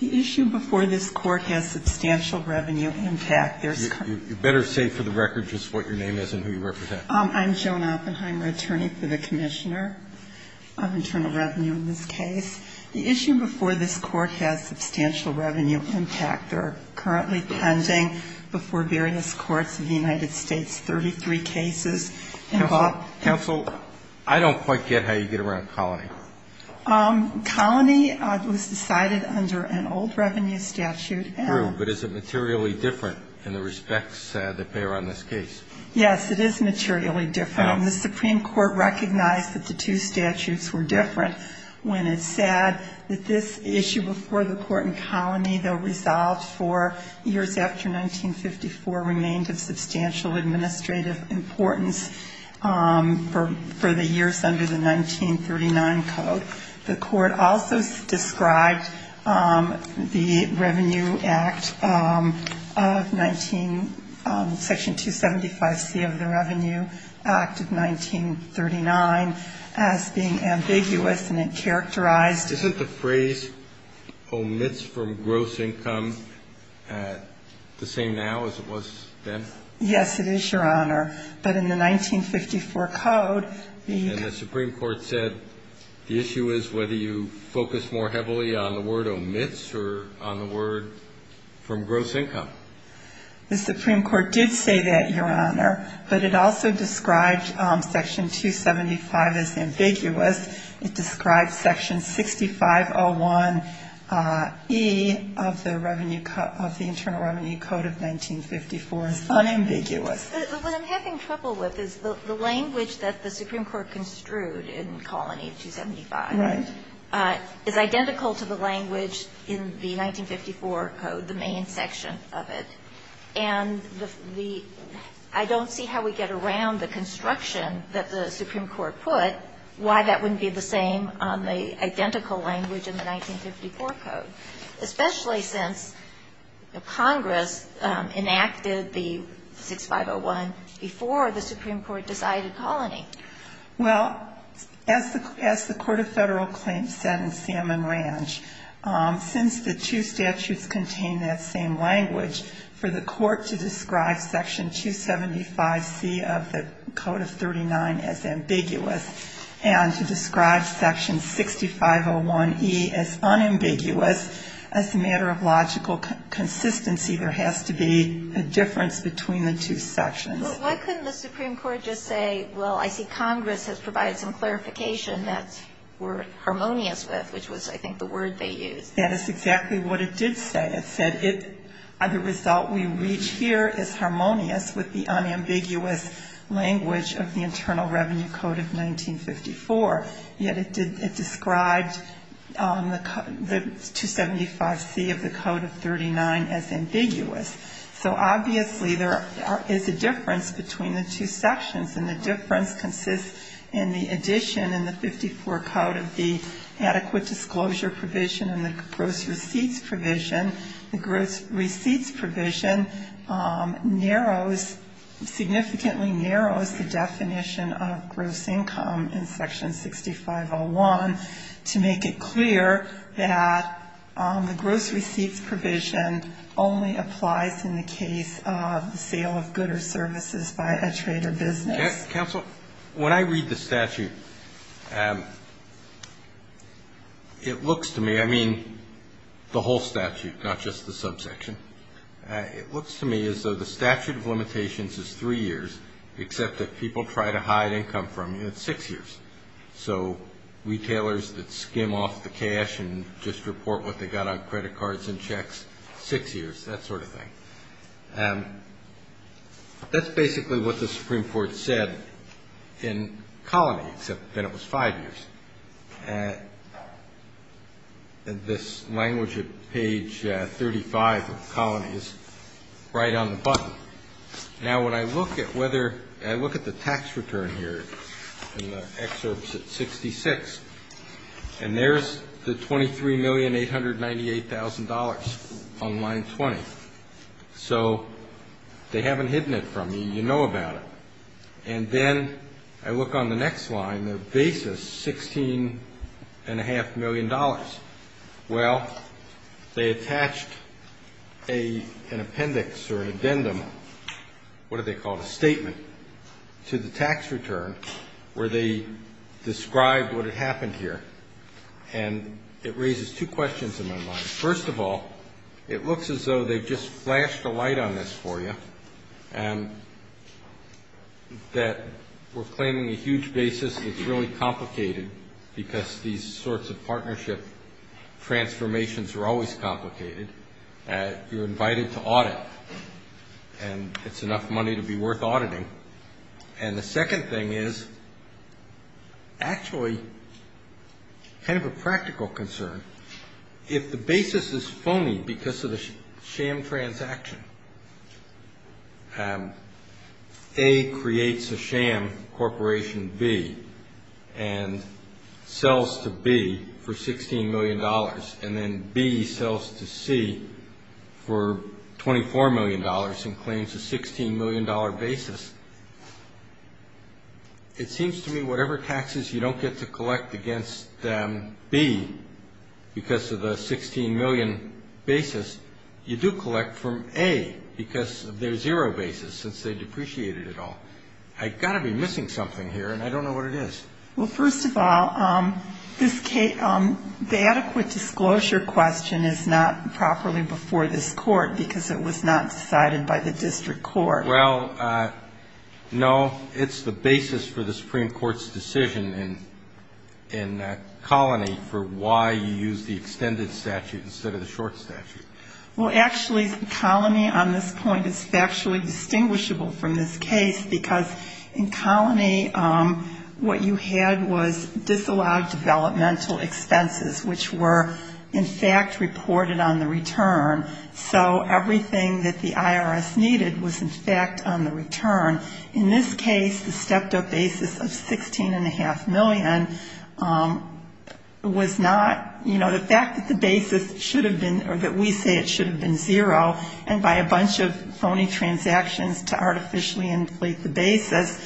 The issue before this court has substantial revenue impact. You better say for the record just what your name is and who you represent. I'm Joan Oppenheimer, attorney for the commissioner of internal revenue in this case. The issue before this court has substantial revenue impact. There are currently pending before various courts in the United States 33 cases. Counsel, I don't quite get how you get around colony. Colony was decided under an old revenue statute. True, but is it materially different in the respects that bear on this case? Yes, it is materially different. And the Supreme Court recognized that the two statutes were different when it said that this issue before the court in colony, though resolved for years after 1954, remained of substantial administrative importance for the years under the 1939 code. The court also described the Revenue Act of 19 § 275C of the Revenue Act of 1939 as being ambiguous and it characterized. Isn't the phrase omits from gross income the same now as it was then? Yes, it is, Your Honor, but in the 1954 code. And the Supreme Court said the issue is whether you focus more heavily on the word omits or on the word from gross income. The Supreme Court did say that, Your Honor, but it also described section 275 as ambiguous. It described section 6501E of the Internal Revenue Code of 1954 as unambiguous. What I'm having trouble with is the language that the Supreme Court construed in colony 275 is identical to the language in the 1954 code, the main section of it. And I don't see how we get around the construction that the Supreme Court put, why that wouldn't be the same on the identical language in the 1954 code, especially since Congress enacted the 6501 before the Supreme Court decided colony. Well, as the Court of Federal Claims said in Salmon Ranch, since the two statutes contain that same language, for the court to describe section 275C of the Code of 39 as ambiguous and to describe section 6501E as unambiguous, as a matter of logical consistency, there has to be a difference between the two sections. Why couldn't the Supreme Court just say, well, I see Congress has provided some clarification that we're harmonious with, which was, I think, the word they used. That is exactly what it did say. It said the result we reach here is harmonious with the unambiguous language of the Internal Revenue Code of 1954. Yet it described the 275C of the Code of 39 as ambiguous. So obviously there is a difference between the two sections, and the difference consists in the addition in the 1954 code of the adequate disclosure provision and the gross receipts provision. The gross receipts provision narrows, significantly narrows the definition of gross income in section 6501 to make it clear that the gross receipts provision only applies in the case of the sale of goods or services by a trade or business. Counsel, when I read the statute, it looks to me, I mean, the whole statute, not just the subsection. It looks to me as though the statute of limitations is three years, except that people try to hide income from you. It's six years. So retailers that skim off the cash and just report what they got on credit cards and checks, six years, that sort of thing. That's basically what the Supreme Court said in Colony, except that it was five years. This language at page 35 of Colony is right on the button. Now, when I look at whether, I look at the tax return here in the excerpts at 66, and there's the $23,898,000 on line 20. So they haven't hidden it from you. You know about it. And then I look on the next line, the basis, $16.5 million. Well, they attached an appendix or an addendum, what do they call it, a statement, to the tax return where they described what had happened here. And it raises two questions in my mind. First of all, it looks as though they've just flashed a light on this for you, and that we're claiming a huge basis. It's really complicated because these sorts of partnership transformations are always complicated. You're invited to audit, and it's enough money to be worth auditing. And the second thing is actually kind of a practical concern. If the basis is phony because of the sham transaction, A creates a sham corporation B and sells to B for $16 million, and then B sells to C for $24 million and claims a $16 million basis, it seems to me whatever taxes you don't get to collect against B because of the $16 million basis, you do collect from A because of their zero basis since they depreciated it all. I've got to be missing something here, and I don't know what it is. Well, first of all, the adequate disclosure question is not properly before this court because it was not decided by the district court. Well, no, it's the basis for the Supreme Court's decision in Colony for why you use the extended statute instead of the short statute. Well, actually, Colony on this point is factually distinguishable from this case because in Colony what you had was disallowed developmental expenses, which were in fact reported on the return. So everything that the IRS needed was in fact on the return. In this case, the stepped-up basis of $16.5 million was not, you know, the fact that the basis should have been or that we say it should have been zero and by a bunch of phony transactions to artificially inflate the basis,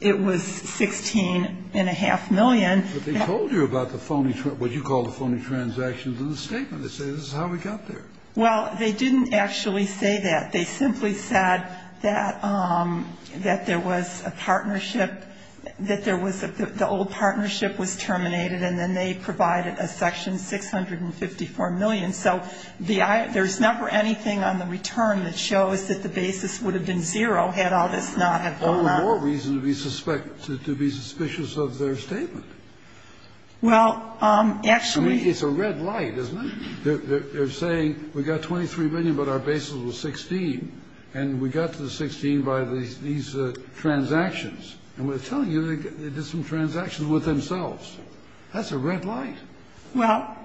it was $16.5 million. But they told you about the phony, what you call the phony transactions in the statement. They say this is how we got there. Well, they didn't actually say that. They simply said that there was a partnership, that there was the old partnership was terminated, and then they provided a section $654 million. So there's never anything on the return that shows that the basis would have been zero had all this not have gone on. There's no more reason to be suspicious of their statement. Well, actually. I mean, it's a red light, isn't it? They're saying we got $23 million, but our basis was $16. And we got to the $16 by these transactions. And we're telling you they did some transactions with themselves. That's a red light. Well,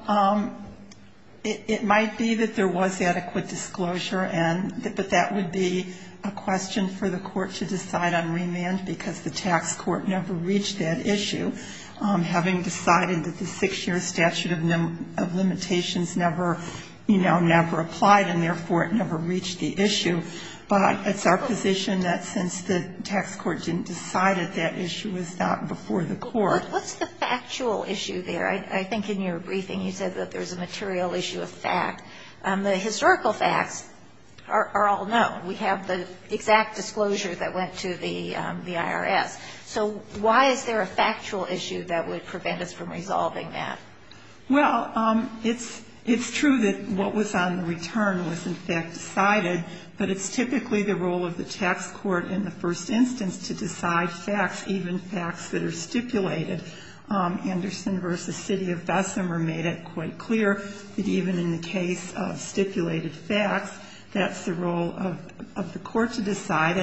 it might be that there was adequate disclosure, but that would be a question for the court to decide on remand, because the tax court never reached that issue, having decided that the six-year statute of limitations never applied, and therefore it never reached the issue. But it's our position that since the tax court didn't decide it, that issue was not before the court. But what's the factual issue there? I think in your briefing you said that there's a material issue of fact. The historical facts are all known. We have the exact disclosure that went to the IRS. So why is there a factual issue that would prevent us from resolving that? Well, it's true that what was on the return was, in fact, decided, but it's typically the role of the tax court in the first instance to decide facts, even facts that are stipulated. Anderson v. City of Bessemer made it quite clear that even in the case of stipulated facts, that's the role of the court to decide.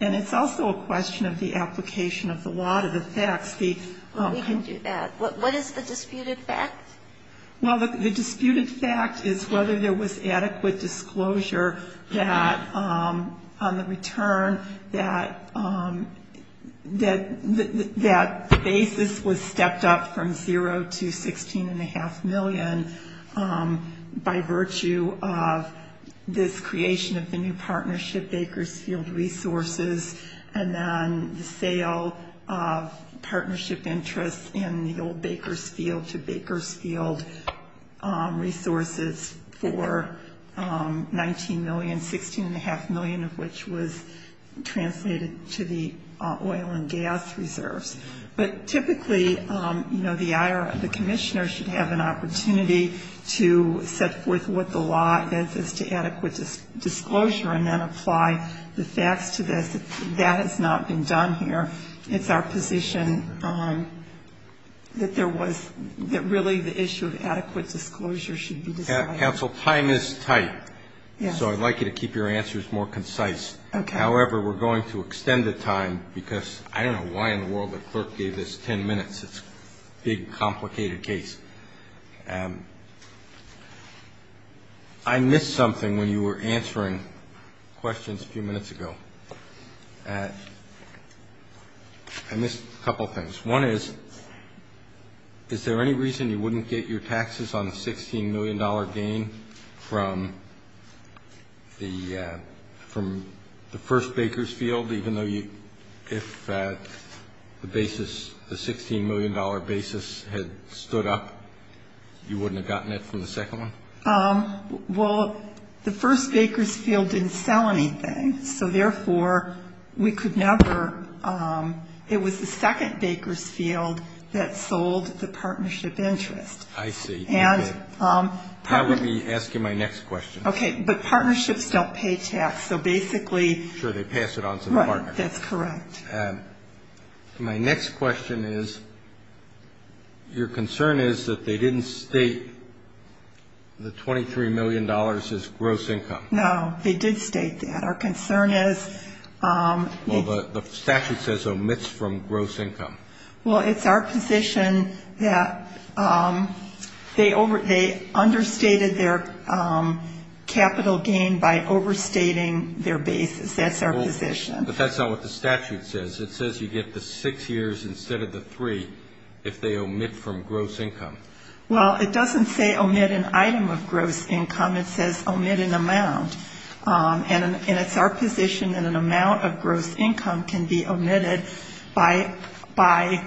And it's also a question of the application of the law to the facts. We can do that. What is the disputed fact? Well, the disputed fact is whether there was adequate disclosure that on the return that the basis was stepped up from zero to $16.5 million by virtue of this creation of the new partnership, Bakersfield Resources, and then the sale of partnership interests in the old Bakersfield to Bakersfield Resources for $19 million, $16.5 million of which was translated to the oil and gas reserves. But typically, you know, the commissioner should have an opportunity to set forth what the law is as to adequate disclosure and then apply the facts to this. That has not been done here. It's our position that there was really the issue of adequate disclosure should be decided. Counsel, time is tight. So I'd like you to keep your answers more concise. However, we're going to extend the time because I don't know why in the world the clerk gave this 10 minutes. It's a big, complicated case. I missed something when you were answering questions a few minutes ago. I missed a couple of things. One is, is there any reason you wouldn't get your taxes on the $16 million gain from the first Bakersfield, even though if the basis, the $16 million basis had stood up, you wouldn't have gotten it from the second one? Well, the first Bakersfield didn't sell anything. So, therefore, we could never ‑‑ it was the second Bakersfield that sold the partnership interest. I see. And ‑‑ That would be asking my next question. Okay. But partnerships don't pay tax. So basically ‑‑ Sure, they pass it on to the partner. Right. That's correct. My next question is, your concern is that they didn't state the $23 million as gross income. No, they did state that. Our concern is ‑‑ Well, the statute says omits from gross income. Well, it's our position that they understated their capital gain by overstating their basis. That's our position. But that's not what the statute says. It says you get the six years instead of the three if they omit from gross income. Well, it doesn't say omit an item of gross income. It says omit an amount. And it's our position that an amount of gross income can be omitted by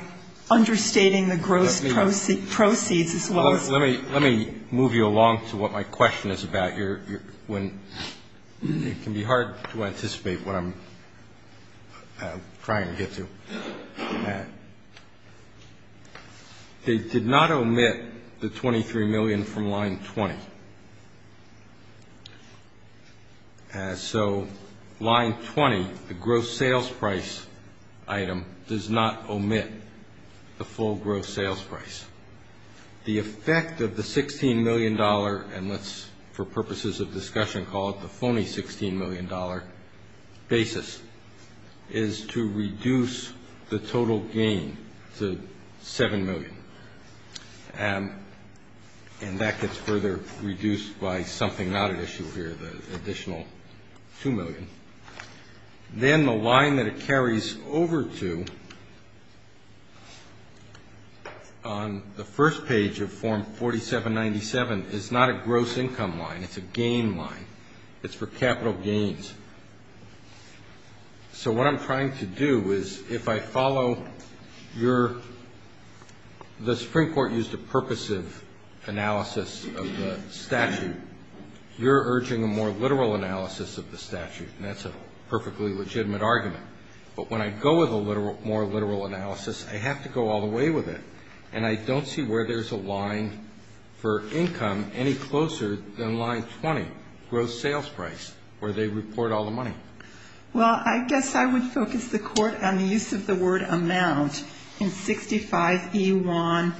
understating the gross proceeds as well as ‑‑ Let me move you along to what my question is about. It can be hard to anticipate what I'm trying to get to. They did not omit the $23 million from line 20. So line 20, the gross sales price item, does not omit the full gross sales price. The effect of the $16 million, and let's, for purposes of discussion, call it the phony $16 million basis, is to reduce the total gain to $7 million. And that gets further reduced by something not at issue here, the additional $2 million. Then the line that it carries over to on the first page of Form 4797 is not a gross income line. It's a gain line. It's for capital gains. So what I'm trying to do is if I follow your ‑‑ the Supreme Court used a purposive analysis of the statute. You're urging a more literal analysis of the statute, and that's a perfectly legitimate argument. But when I go with a more literal analysis, I have to go all the way with it. And I don't see where there's a line for income any closer than line 20, gross sales price, where they report all the money. Well, I guess I would focus the court on the use of the word amount in 65E1A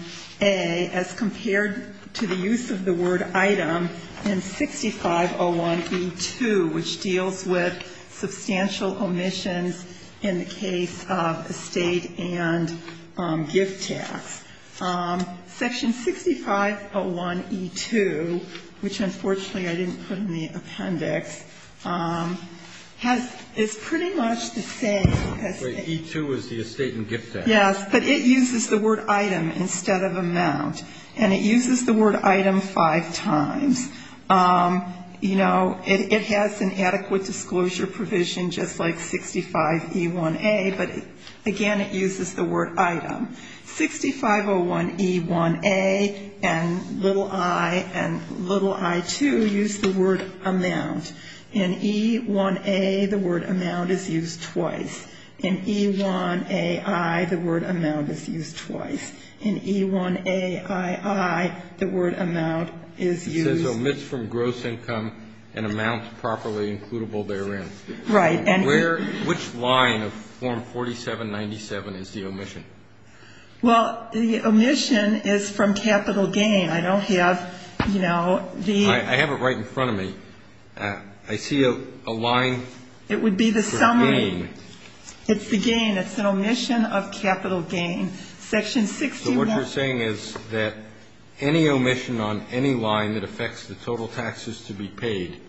as compared to the use of the word item in 6501E2, which deals with substantial omissions in the case of estate and gift tax. Section 6501E2, which unfortunately I didn't put in the appendix, is pretty much the same. E2 is the estate and gift tax. Yes, but it uses the word item instead of amount. And it uses the word item five times. You know, it has an adequate disclosure provision just like 65E1A, but again, it uses the word item. 6501E1A and little I and little I2 use the word amount. In E1A, the word amount is used twice. In E1AI, the word amount is used twice. In E1AII, the word amount is used. It says omits from gross income and amounts properly includable therein. Right. Which line of Form 4797 is the omission? Well, the omission is from capital gain. I don't have, you know, the ---- I have it right in front of me. I see a line. It would be the summary. It's the gain. It's an omission of capital gain. Section 61. What you're saying is that any omission on any line that affects the total taxes to be paid,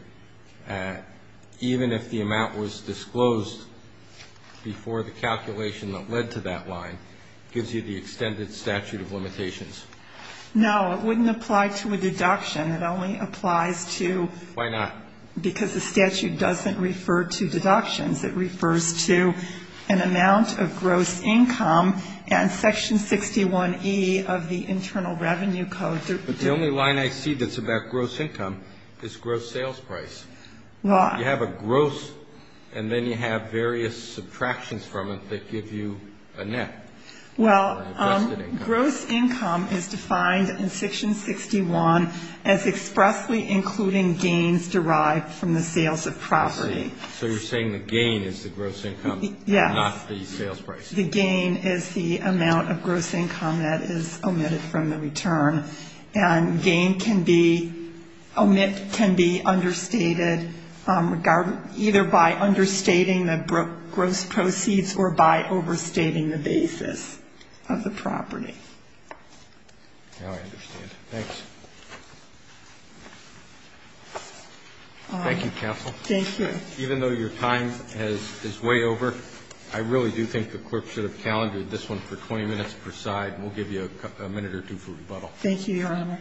even if the amount was disclosed before the calculation that led to that line, gives you the extended statute of limitations. No, it wouldn't apply to a deduction. It only applies to ---- Why not? Because the statute doesn't refer to deductions. It refers to an amount of gross income and Section 61E of the Internal Revenue Code. But the only line I see that's about gross income is gross sales price. Well, I ---- You have a gross, and then you have various subtractions from it that give you a net. Well, gross income is defined in Section 61 as expressly including gains derived from the sales of property. I see. So you're saying the gain is the gross income, not the sales price. Yes. The gain is the amount of gross income that is omitted from the return. And gain can be ---- omit can be understated either by understating the gross proceeds or by overstating the basis of the property. Now I understand. Thanks. Thank you, counsel. Thank you. Even though your time has ---- is way over, I really do think the Court should have calendared this one for 20 minutes per side, and we'll give you a minute or two for rebuttal. Thank you, Your Honor.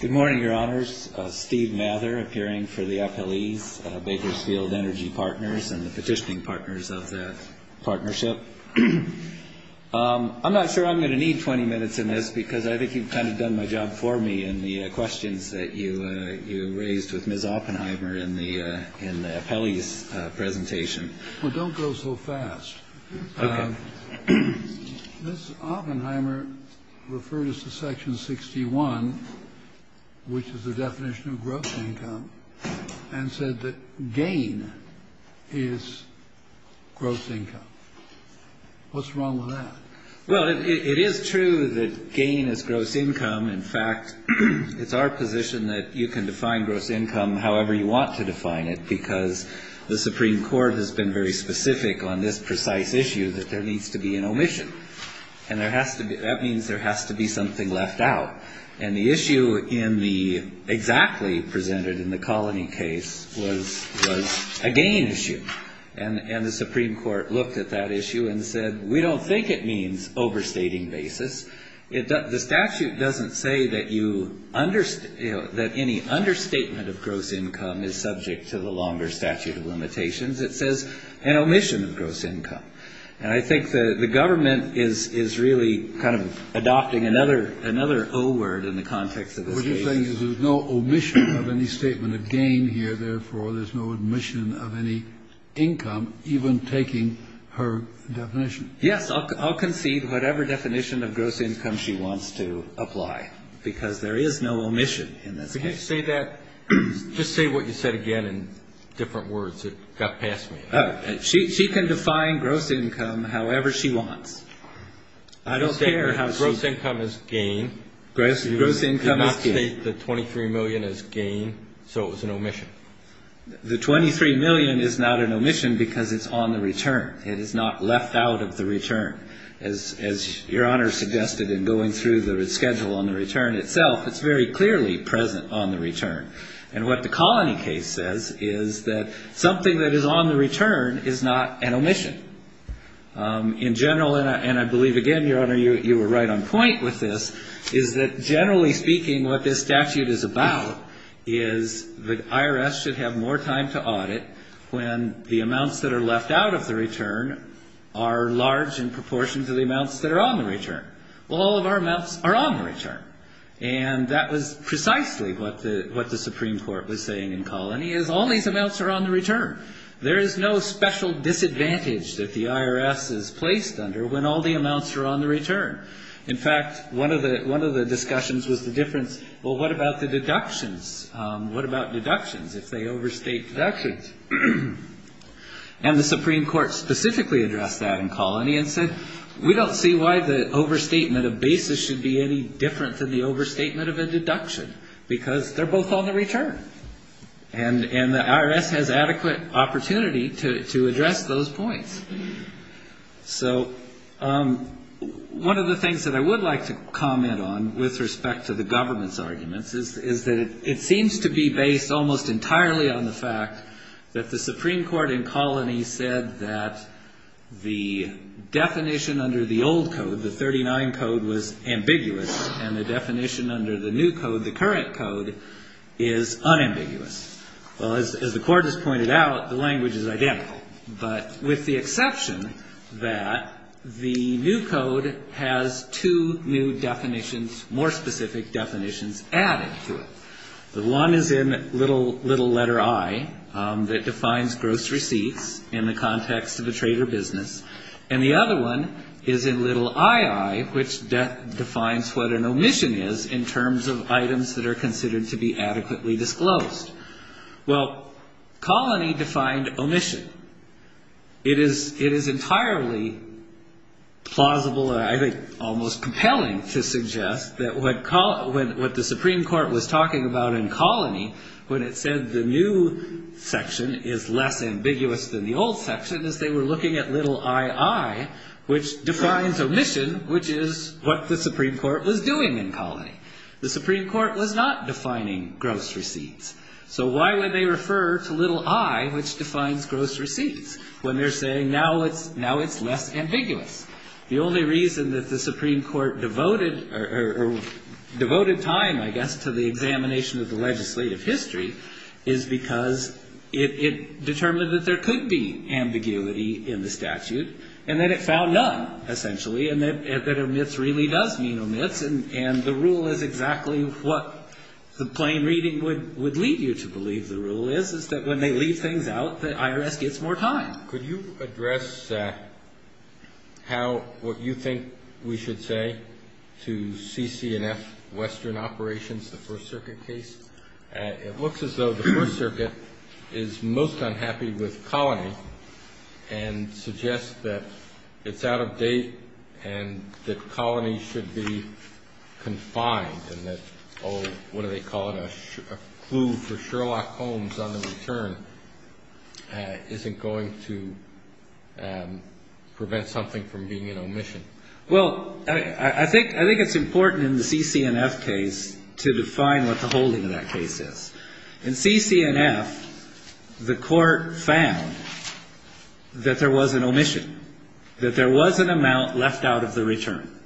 Good morning, Your Honors. Steve Mather, appearing for the appellees, Bakersfield Energy Partners and the petitioning partners of that partnership. I'm not sure I'm going to need 20 minutes in this because I think you've kind of done my job for me in the questions that you raised with Ms. Oppenheimer in the appellees' presentation. Well, don't go so fast. Okay. Ms. Oppenheimer referred us to Section 61, which is the definition of gross income, and said that gain is gross income. What's wrong with that? Well, it is true that gain is gross income. In fact, it's our position that you can define gross income however you want to define it because the Supreme Court has been very specific on this precise issue that there needs to be an omission, and that means there has to be something left out. And the issue exactly presented in the colony case was a gain issue, and the Supreme Court looked at that issue and said, we don't think it means overstating basis. The statute doesn't say that any understatement of gross income is subject to the longer statute of limitations. It says an omission of gross income. And I think the government is really kind of adopting another O word in the context of this case. What you're saying is there's no omission of any statement of gain here, therefore there's no omission of any income, even taking her definition. Yes, I'll concede whatever definition of gross income she wants to apply, because there is no omission in this case. Say that, just say what you said again in different words that got past me. She can define gross income however she wants. I don't care how gross income is gain. Gross income is gain. You did not state the $23 million as gain, so it was an omission. The $23 million is not an omission because it's on the return. It is not left out of the return. As Your Honor suggested in going through the schedule on the return itself, it's very clearly present on the return. And what the colony case says is that something that is on the return is not an omission. In general, and I believe, again, Your Honor, you were right on point with this, is that generally speaking what this statute is about is the IRS should have more time to audit when the amounts that are left out of the return are large in proportion to the amounts that are on the return. Well, all of our amounts are on the return. And that was precisely what the Supreme Court was saying in Colony is all these amounts are on the return. There is no special disadvantage that the IRS is placed under when all the amounts are on the return. In fact, one of the discussions was the difference, well, what about the deductions? What about deductions if they overstate deductions? And the Supreme Court specifically addressed that in Colony and said, we don't see why the overstatement of basis should be any different than the overstatement of a deduction because they're both on the return. And the IRS has adequate opportunity to address those points. So one of the things that I would like to comment on with respect to the government's arguments is that it seems to be based almost entirely on the fact that the Supreme Court in Colony said that the definition under the old code, the 39 code, was ambiguous and the definition under the new code, the current code, is unambiguous. Well, as the Court has pointed out, the language is identical, but with the exception that the new code has two new definitions, more specific definitions added to it. The one is in little letter I that defines gross receipts in the context of a trade or business. And the other one is in little ii, which defines what an omission is in terms of items that are considered to be adequately disclosed. Well, Colony defined omission. It is entirely plausible, I think almost compelling to suggest, that what the Supreme Court was talking about in Colony when it said the new section is less ambiguous than the old section is they were looking at little ii, which defines omission, which is what the Supreme Court was doing in Colony. The Supreme Court was not defining gross receipts. So why would they refer to little i, which defines gross receipts, when they're saying now it's less ambiguous? The only reason that the Supreme Court devoted time, I guess, to the examination of the legislative history is because it determined that there could be ambiguity in the statute and that it found none, essentially, and that omits really does mean omits. And the rule is exactly what the plain reading would lead you to believe the rule is, is that when they leave things out, the IRS gets more time. Could you address how what you think we should say to CC&F Western Operations, the First Circuit case? It looks as though the First Circuit is most unhappy with Colony and suggests that it's out of date and that Colony should be confined and that, oh, what do they call it, a clue for Sherlock Holmes on the return isn't going to prevent something from being an omission. Well, I think it's important in the CC&F case to define what the holding of that case is. In CC&F, the court found that there was an omission, that there was an amount left out of the return.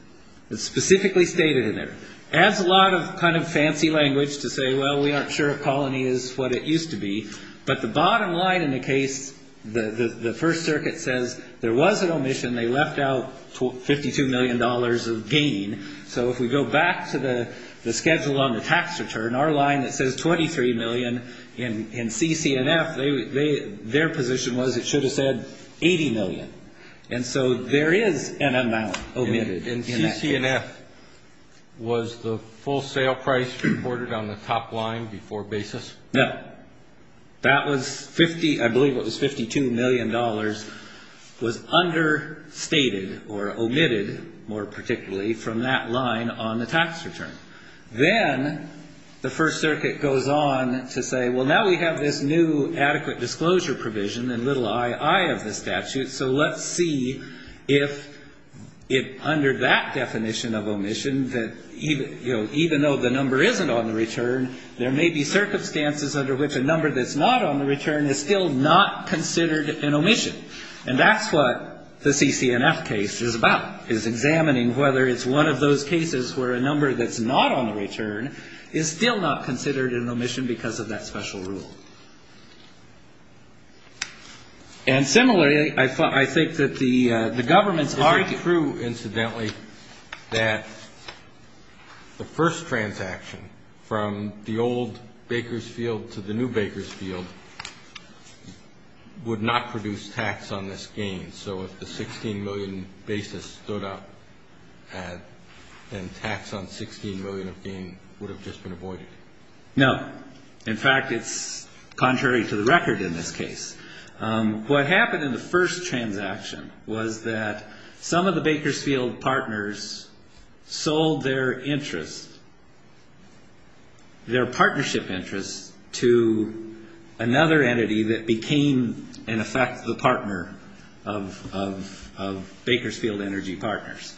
It's specifically stated in there. It adds a lot of kind of fancy language to say, well, we aren't sure if Colony is what it used to be. But the bottom line in the case, the First Circuit says there was an omission. They left out $52 million of gain. So if we go back to the schedule on the tax return, our line that says $23 million in CC&F, their position was it should have said $80 million. And so there is an amount omitted in that case. And CC&F, was the full sale price reported on the top line before basis? No. That was 50, I believe it was $52 million, was understated or omitted, more particularly, from that line on the tax return. Then the First Circuit goes on to say, well, now we have this new adequate disclosure provision and little i.i. of the statute, so let's see if under that definition of omission, even though the number isn't on the return, there may be circumstances under which a number that's not on the return is still not considered an omission. And that's what the CC&F case is about, is examining whether it's one of those cases where a number that's not on the return is still not considered an omission because of that special rule. And similarly, I think that the government's argument – It's not true, incidentally, that the first transaction from the old baker's field to the new baker's field would not produce tax on this gain. And so if the $16 million basis stood up and tax on $16 million of gain would have just been avoided? No. In fact, it's contrary to the record in this case. What happened in the first transaction was that some of the baker's field partners sold their interest, their partnership interest to another entity that became, in effect, the partner of baker's field energy partners.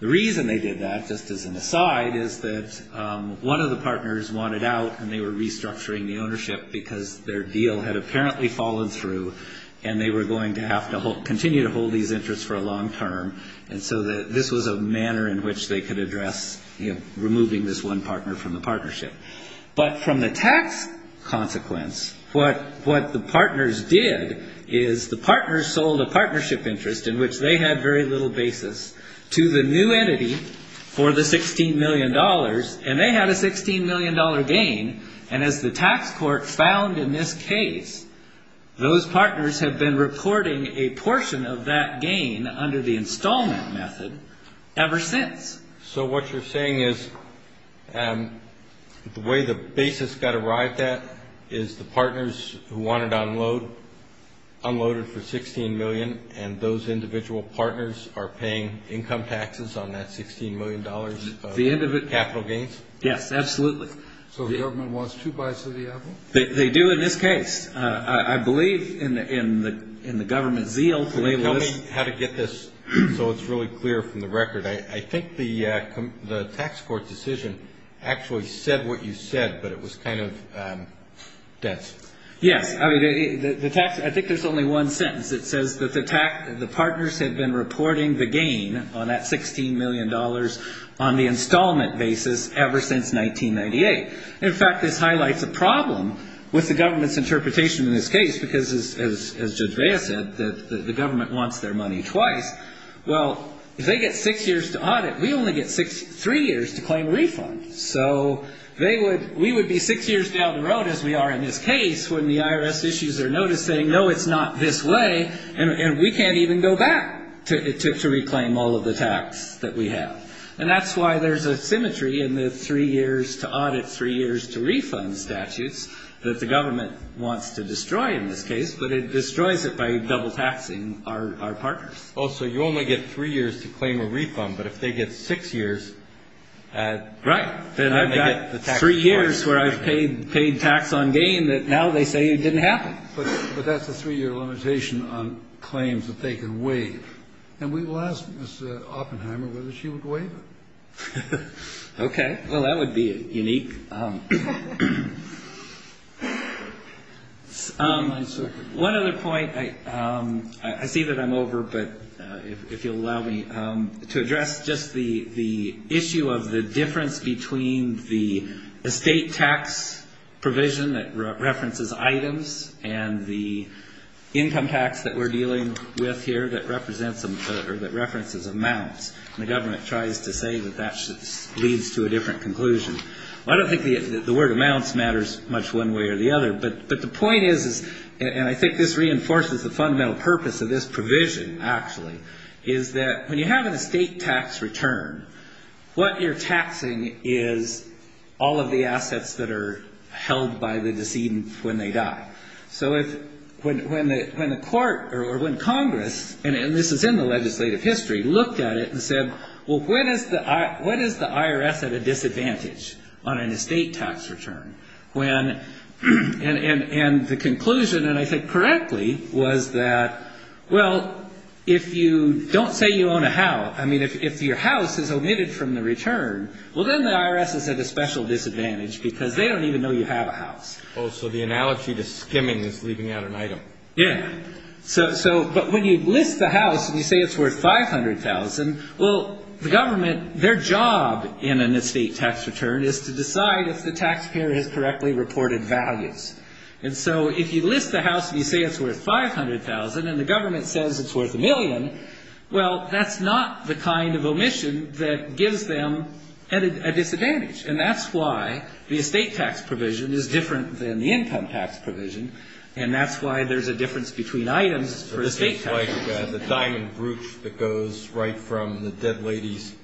The reason they did that, just as an aside, is that one of the partners wanted out and they were restructuring the ownership because their deal had apparently fallen through and they were going to have to continue to hold these interests for a long term. And so this was a manner in which they could address removing this one partner from the partnership. But from the tax consequence, what the partners did is the partners sold a partnership interest in which they had very little basis to the new entity for the $16 million, and they had a $16 million gain, and as the tax court found in this case, those partners have been reporting a portion of that gain under the installment method ever since. So what you're saying is the way the basis got arrived at is the partners who wanted to unload, unloaded for $16 million, and those individual partners are paying income taxes on that $16 million of capital gains? Yes, absolutely. So the government wants two bites of the apple? They do in this case. I believe in the government's zeal to label this. Tell me how to get this so it's really clear from the record. I think the tax court decision actually said what you said, but it was kind of dense. Yes. I think there's only one sentence. It says that the partners had been reporting the gain on that $16 million on the installment basis ever since 1998. In fact, this highlights a problem with the government's interpretation in this case, because as Judge Vea said, the government wants their money twice. Well, if they get six years to audit, we only get three years to claim a refund. So we would be six years down the road, as we are in this case, when the IRS issues are noticing, no, it's not this way, and we can't even go back to reclaim all of the tax that we have. And that's why there's a symmetry in the three years to audit, three years to refund statutes, that the government wants to destroy in this case, but it destroys it by double-taxing our partners. Oh, so you only get three years to claim a refund, but if they get six years at the tax court? Right. Then I've got three years where I've paid tax on gain that now they say didn't happen. But that's a three-year limitation on claims that they can waive. And we will ask Ms. Oppenheimer whether she would waive it. Okay. Well, that would be unique. One other point. I see that I'm over, but if you'll allow me, to address just the issue of the difference between the estate tax provision that references items and the income tax that we're dealing with here that represents, or that references amounts. And the government tries to say that that leads to a different conclusion. Well, I don't think the word amounts matters much one way or the other, but the point is, and I think this reinforces the fundamental purpose of this provision, actually, is that when you have an estate tax return, what you're taxing is all of the assets that are held by the decedent when they die. So when the court or when Congress, and this is in the legislative history, looked at it and said, well, when is the IRS at a disadvantage on an estate tax return? And the conclusion, and I think correctly, was that, well, if you don't say you own a house. I mean, if your house is omitted from the return, well, then the IRS is at a special disadvantage because they don't even know you have a house. Oh, so the analogy to skimming is leaving out an item. Yeah. So, but when you list the house and you say it's worth $500,000, well, the government, their job in an estate tax return is to decide if the taxpayer has correctly reported values. And so if you list the house and you say it's worth $500,000 and the government says it's worth a million, well, that's not the kind of omission that gives them a disadvantage. And that's why the estate tax provision is different than the income tax provision, and that's why there's a difference between items for estate tax. It's like the diamond brooch that goes right from the dead lady's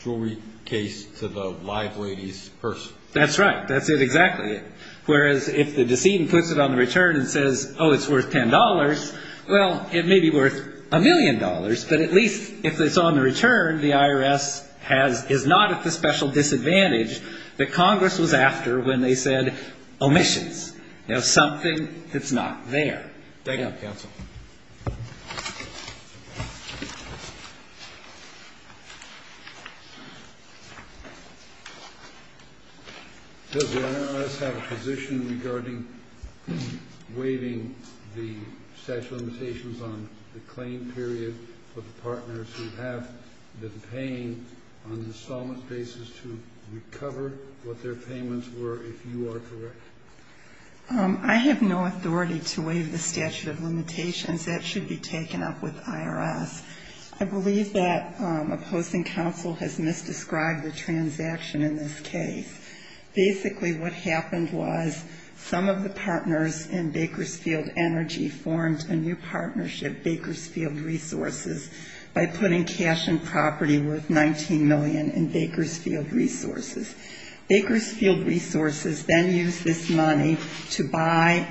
jewelry case to the live lady's purse. That's right. That's it exactly. Whereas if the decedent puts it on the return and says, oh, it's worth $10, well, it may be worth a million dollars, but at least if it's on the return, the IRS is not at the special disadvantage that Congress was after when they said omissions. Now, something that's not there. Thank you, counsel. Does the IRS have a position regarding waiving the statute of limitations on the claim period for the partners who have been paying on an installment basis to recover what their payments were, if you are correct? I have no authority to waive the statute of limitations. That should be taken up with the IRS. I believe that opposing counsel has misdescribed the transaction in this case. Basically what happened was some of the partners in Bakersfield Energy formed a new partnership, Bakersfield Resources, by putting cash and property worth $19 million in Bakersfield Resources. Bakersfield Resources then used this money to buy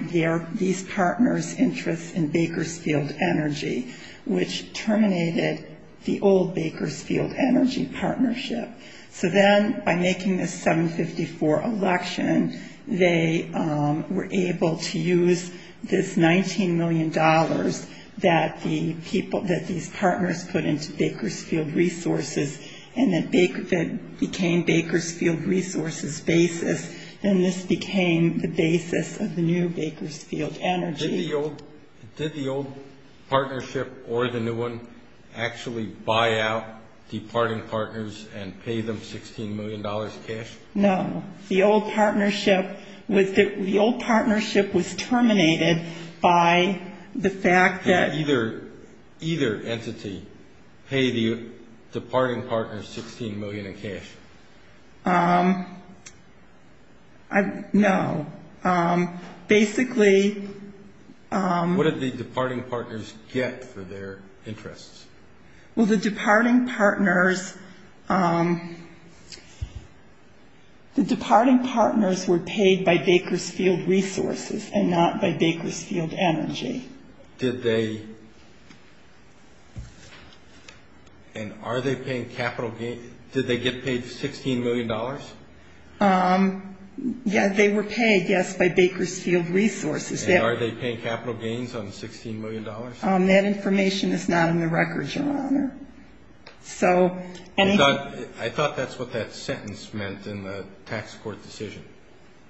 these partners' interests in Bakersfield Energy, which terminated the old Bakersfield Energy partnership. So then by making this 754 election, they were able to use this $19 million that these partners put into Bakersfield Resources and it became Bakersfield Resources basis, and this became the basis of the new Bakersfield Energy. Did the old partnership or the new one actually buy out departing partners and pay them $16 million cash? No. The old partnership was terminated by the fact that — Did either entity pay the departing partners $16 million in cash? No. Basically — What did the departing partners get for their interests? Well, the departing partners — the departing partners were paid by Bakersfield Resources and not by Bakersfield Energy. Did they — and are they paying capital gains? Did they get paid $16 million? Yeah, they were paid, yes, by Bakersfield Resources. And are they paying capital gains on $16 million? That information is not in the records, Your Honor. So — I thought that's what that sentence meant in the tax court decision,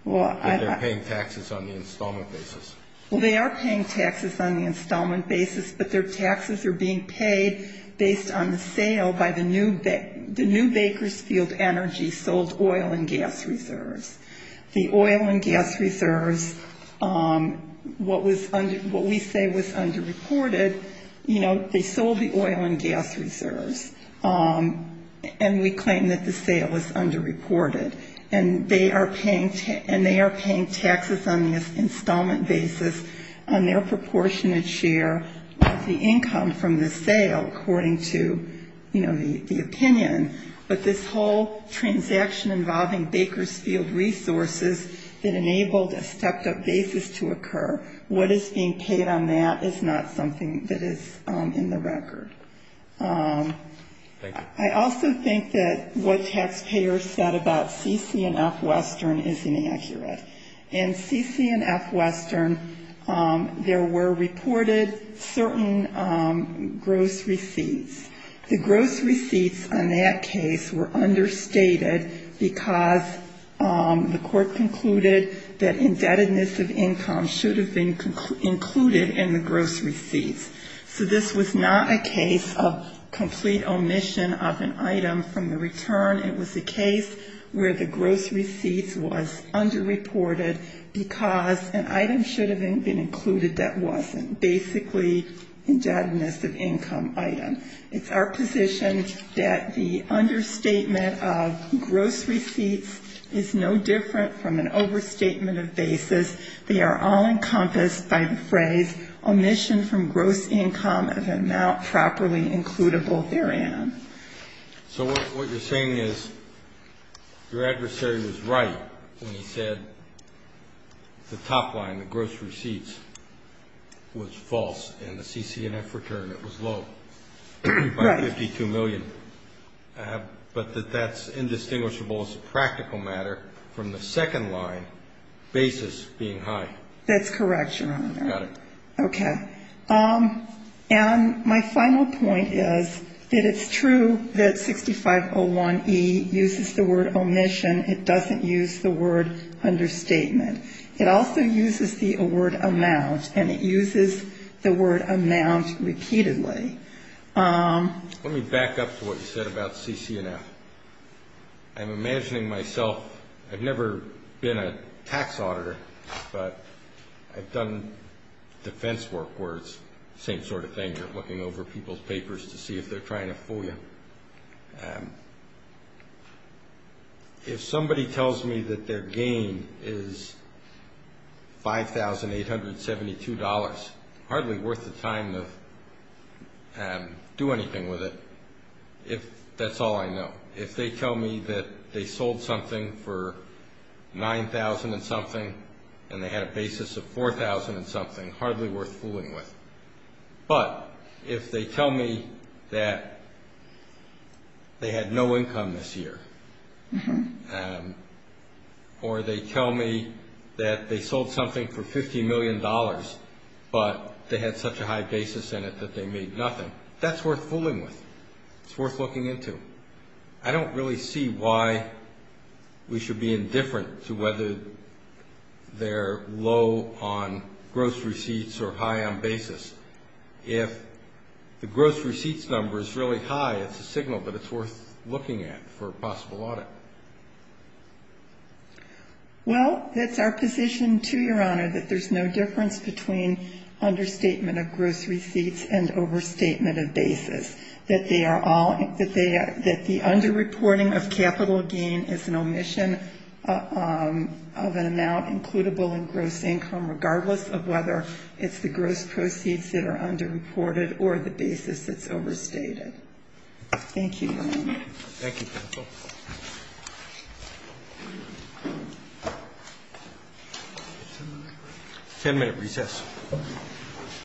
that they're paying taxes on the installment basis. Well, they are paying taxes on the installment basis, but their taxes are being paid based on the sale by the new — the new Bakersfield Energy sold oil and gas reserves. The oil and gas reserves, what we say was underreported, you know, they sold the oil and gas reserves, and we claim that the sale was underreported. And they are paying taxes on the installment basis on their proportionate share of the income from the sale, according to, you know, the opinion. But this whole transaction involving Bakersfield Resources that enabled a stepped-up basis to occur, what is being paid on that is not something that is in the record. Thank you. I also think that what taxpayers said about C.C. and F. Western is inaccurate. In C.C. and F. Western, there were reported certain gross receipts. The gross receipts on that case were understated because the court concluded that indebtedness of income should have been included in the gross receipts. So this was not a case of complete omission of an item from the return. It was a case where the gross receipts was underreported because an item should have been included that wasn't. Basically, indebtedness of income item. It's our position that the understatement of gross receipts is no different from an overstatement of basis. They are all encompassed by the phrase, omission from gross income of an amount properly includable therein. So what you're saying is your adversary was right when he said the top line, the gross receipts, was false, and the C.C. and F. return, it was low by $52 million. Right. But that that's indistinguishable as a practical matter from the second line, basis being high. That's correct, Your Honor. Got it. Okay. And my final point is that it's true that 6501E uses the word omission. It doesn't use the word understatement. It also uses the word amount, and it uses the word amount repeatedly. Let me back up to what you said about C.C. and F. I'm imagining myself, I've never been a tax auditor, but I've done defense work where it's the same sort of thing. You're looking over people's papers to see if they're trying to fool you. If somebody tells me that their gain is $5,872, hardly worth the time to do anything with it, if that's all I know. If they tell me that they sold something for $9,000 and something, and they had a basis of $4,000 and something, hardly worth fooling with. But if they tell me that they had no income this year, or they tell me that they sold something for $50 million, but they had such a high basis in it that they made nothing, that's worth fooling with. It's worth looking into. I don't really see why we should be indifferent to whether they're low on gross receipts or high on basis. If the gross receipts number is really high, it's a signal, but it's worth looking at for possible audit. Well, that's our position, too, Your Honor, that there's no difference between understatement of gross receipts and overstatement of basis, that the underreporting of capital gain is an omission of an amount includable in gross income, regardless of whether it's the gross proceeds that are underreported or the basis that's overstated. Thank you, Your Honor. Thank you, counsel. Ten-minute recess.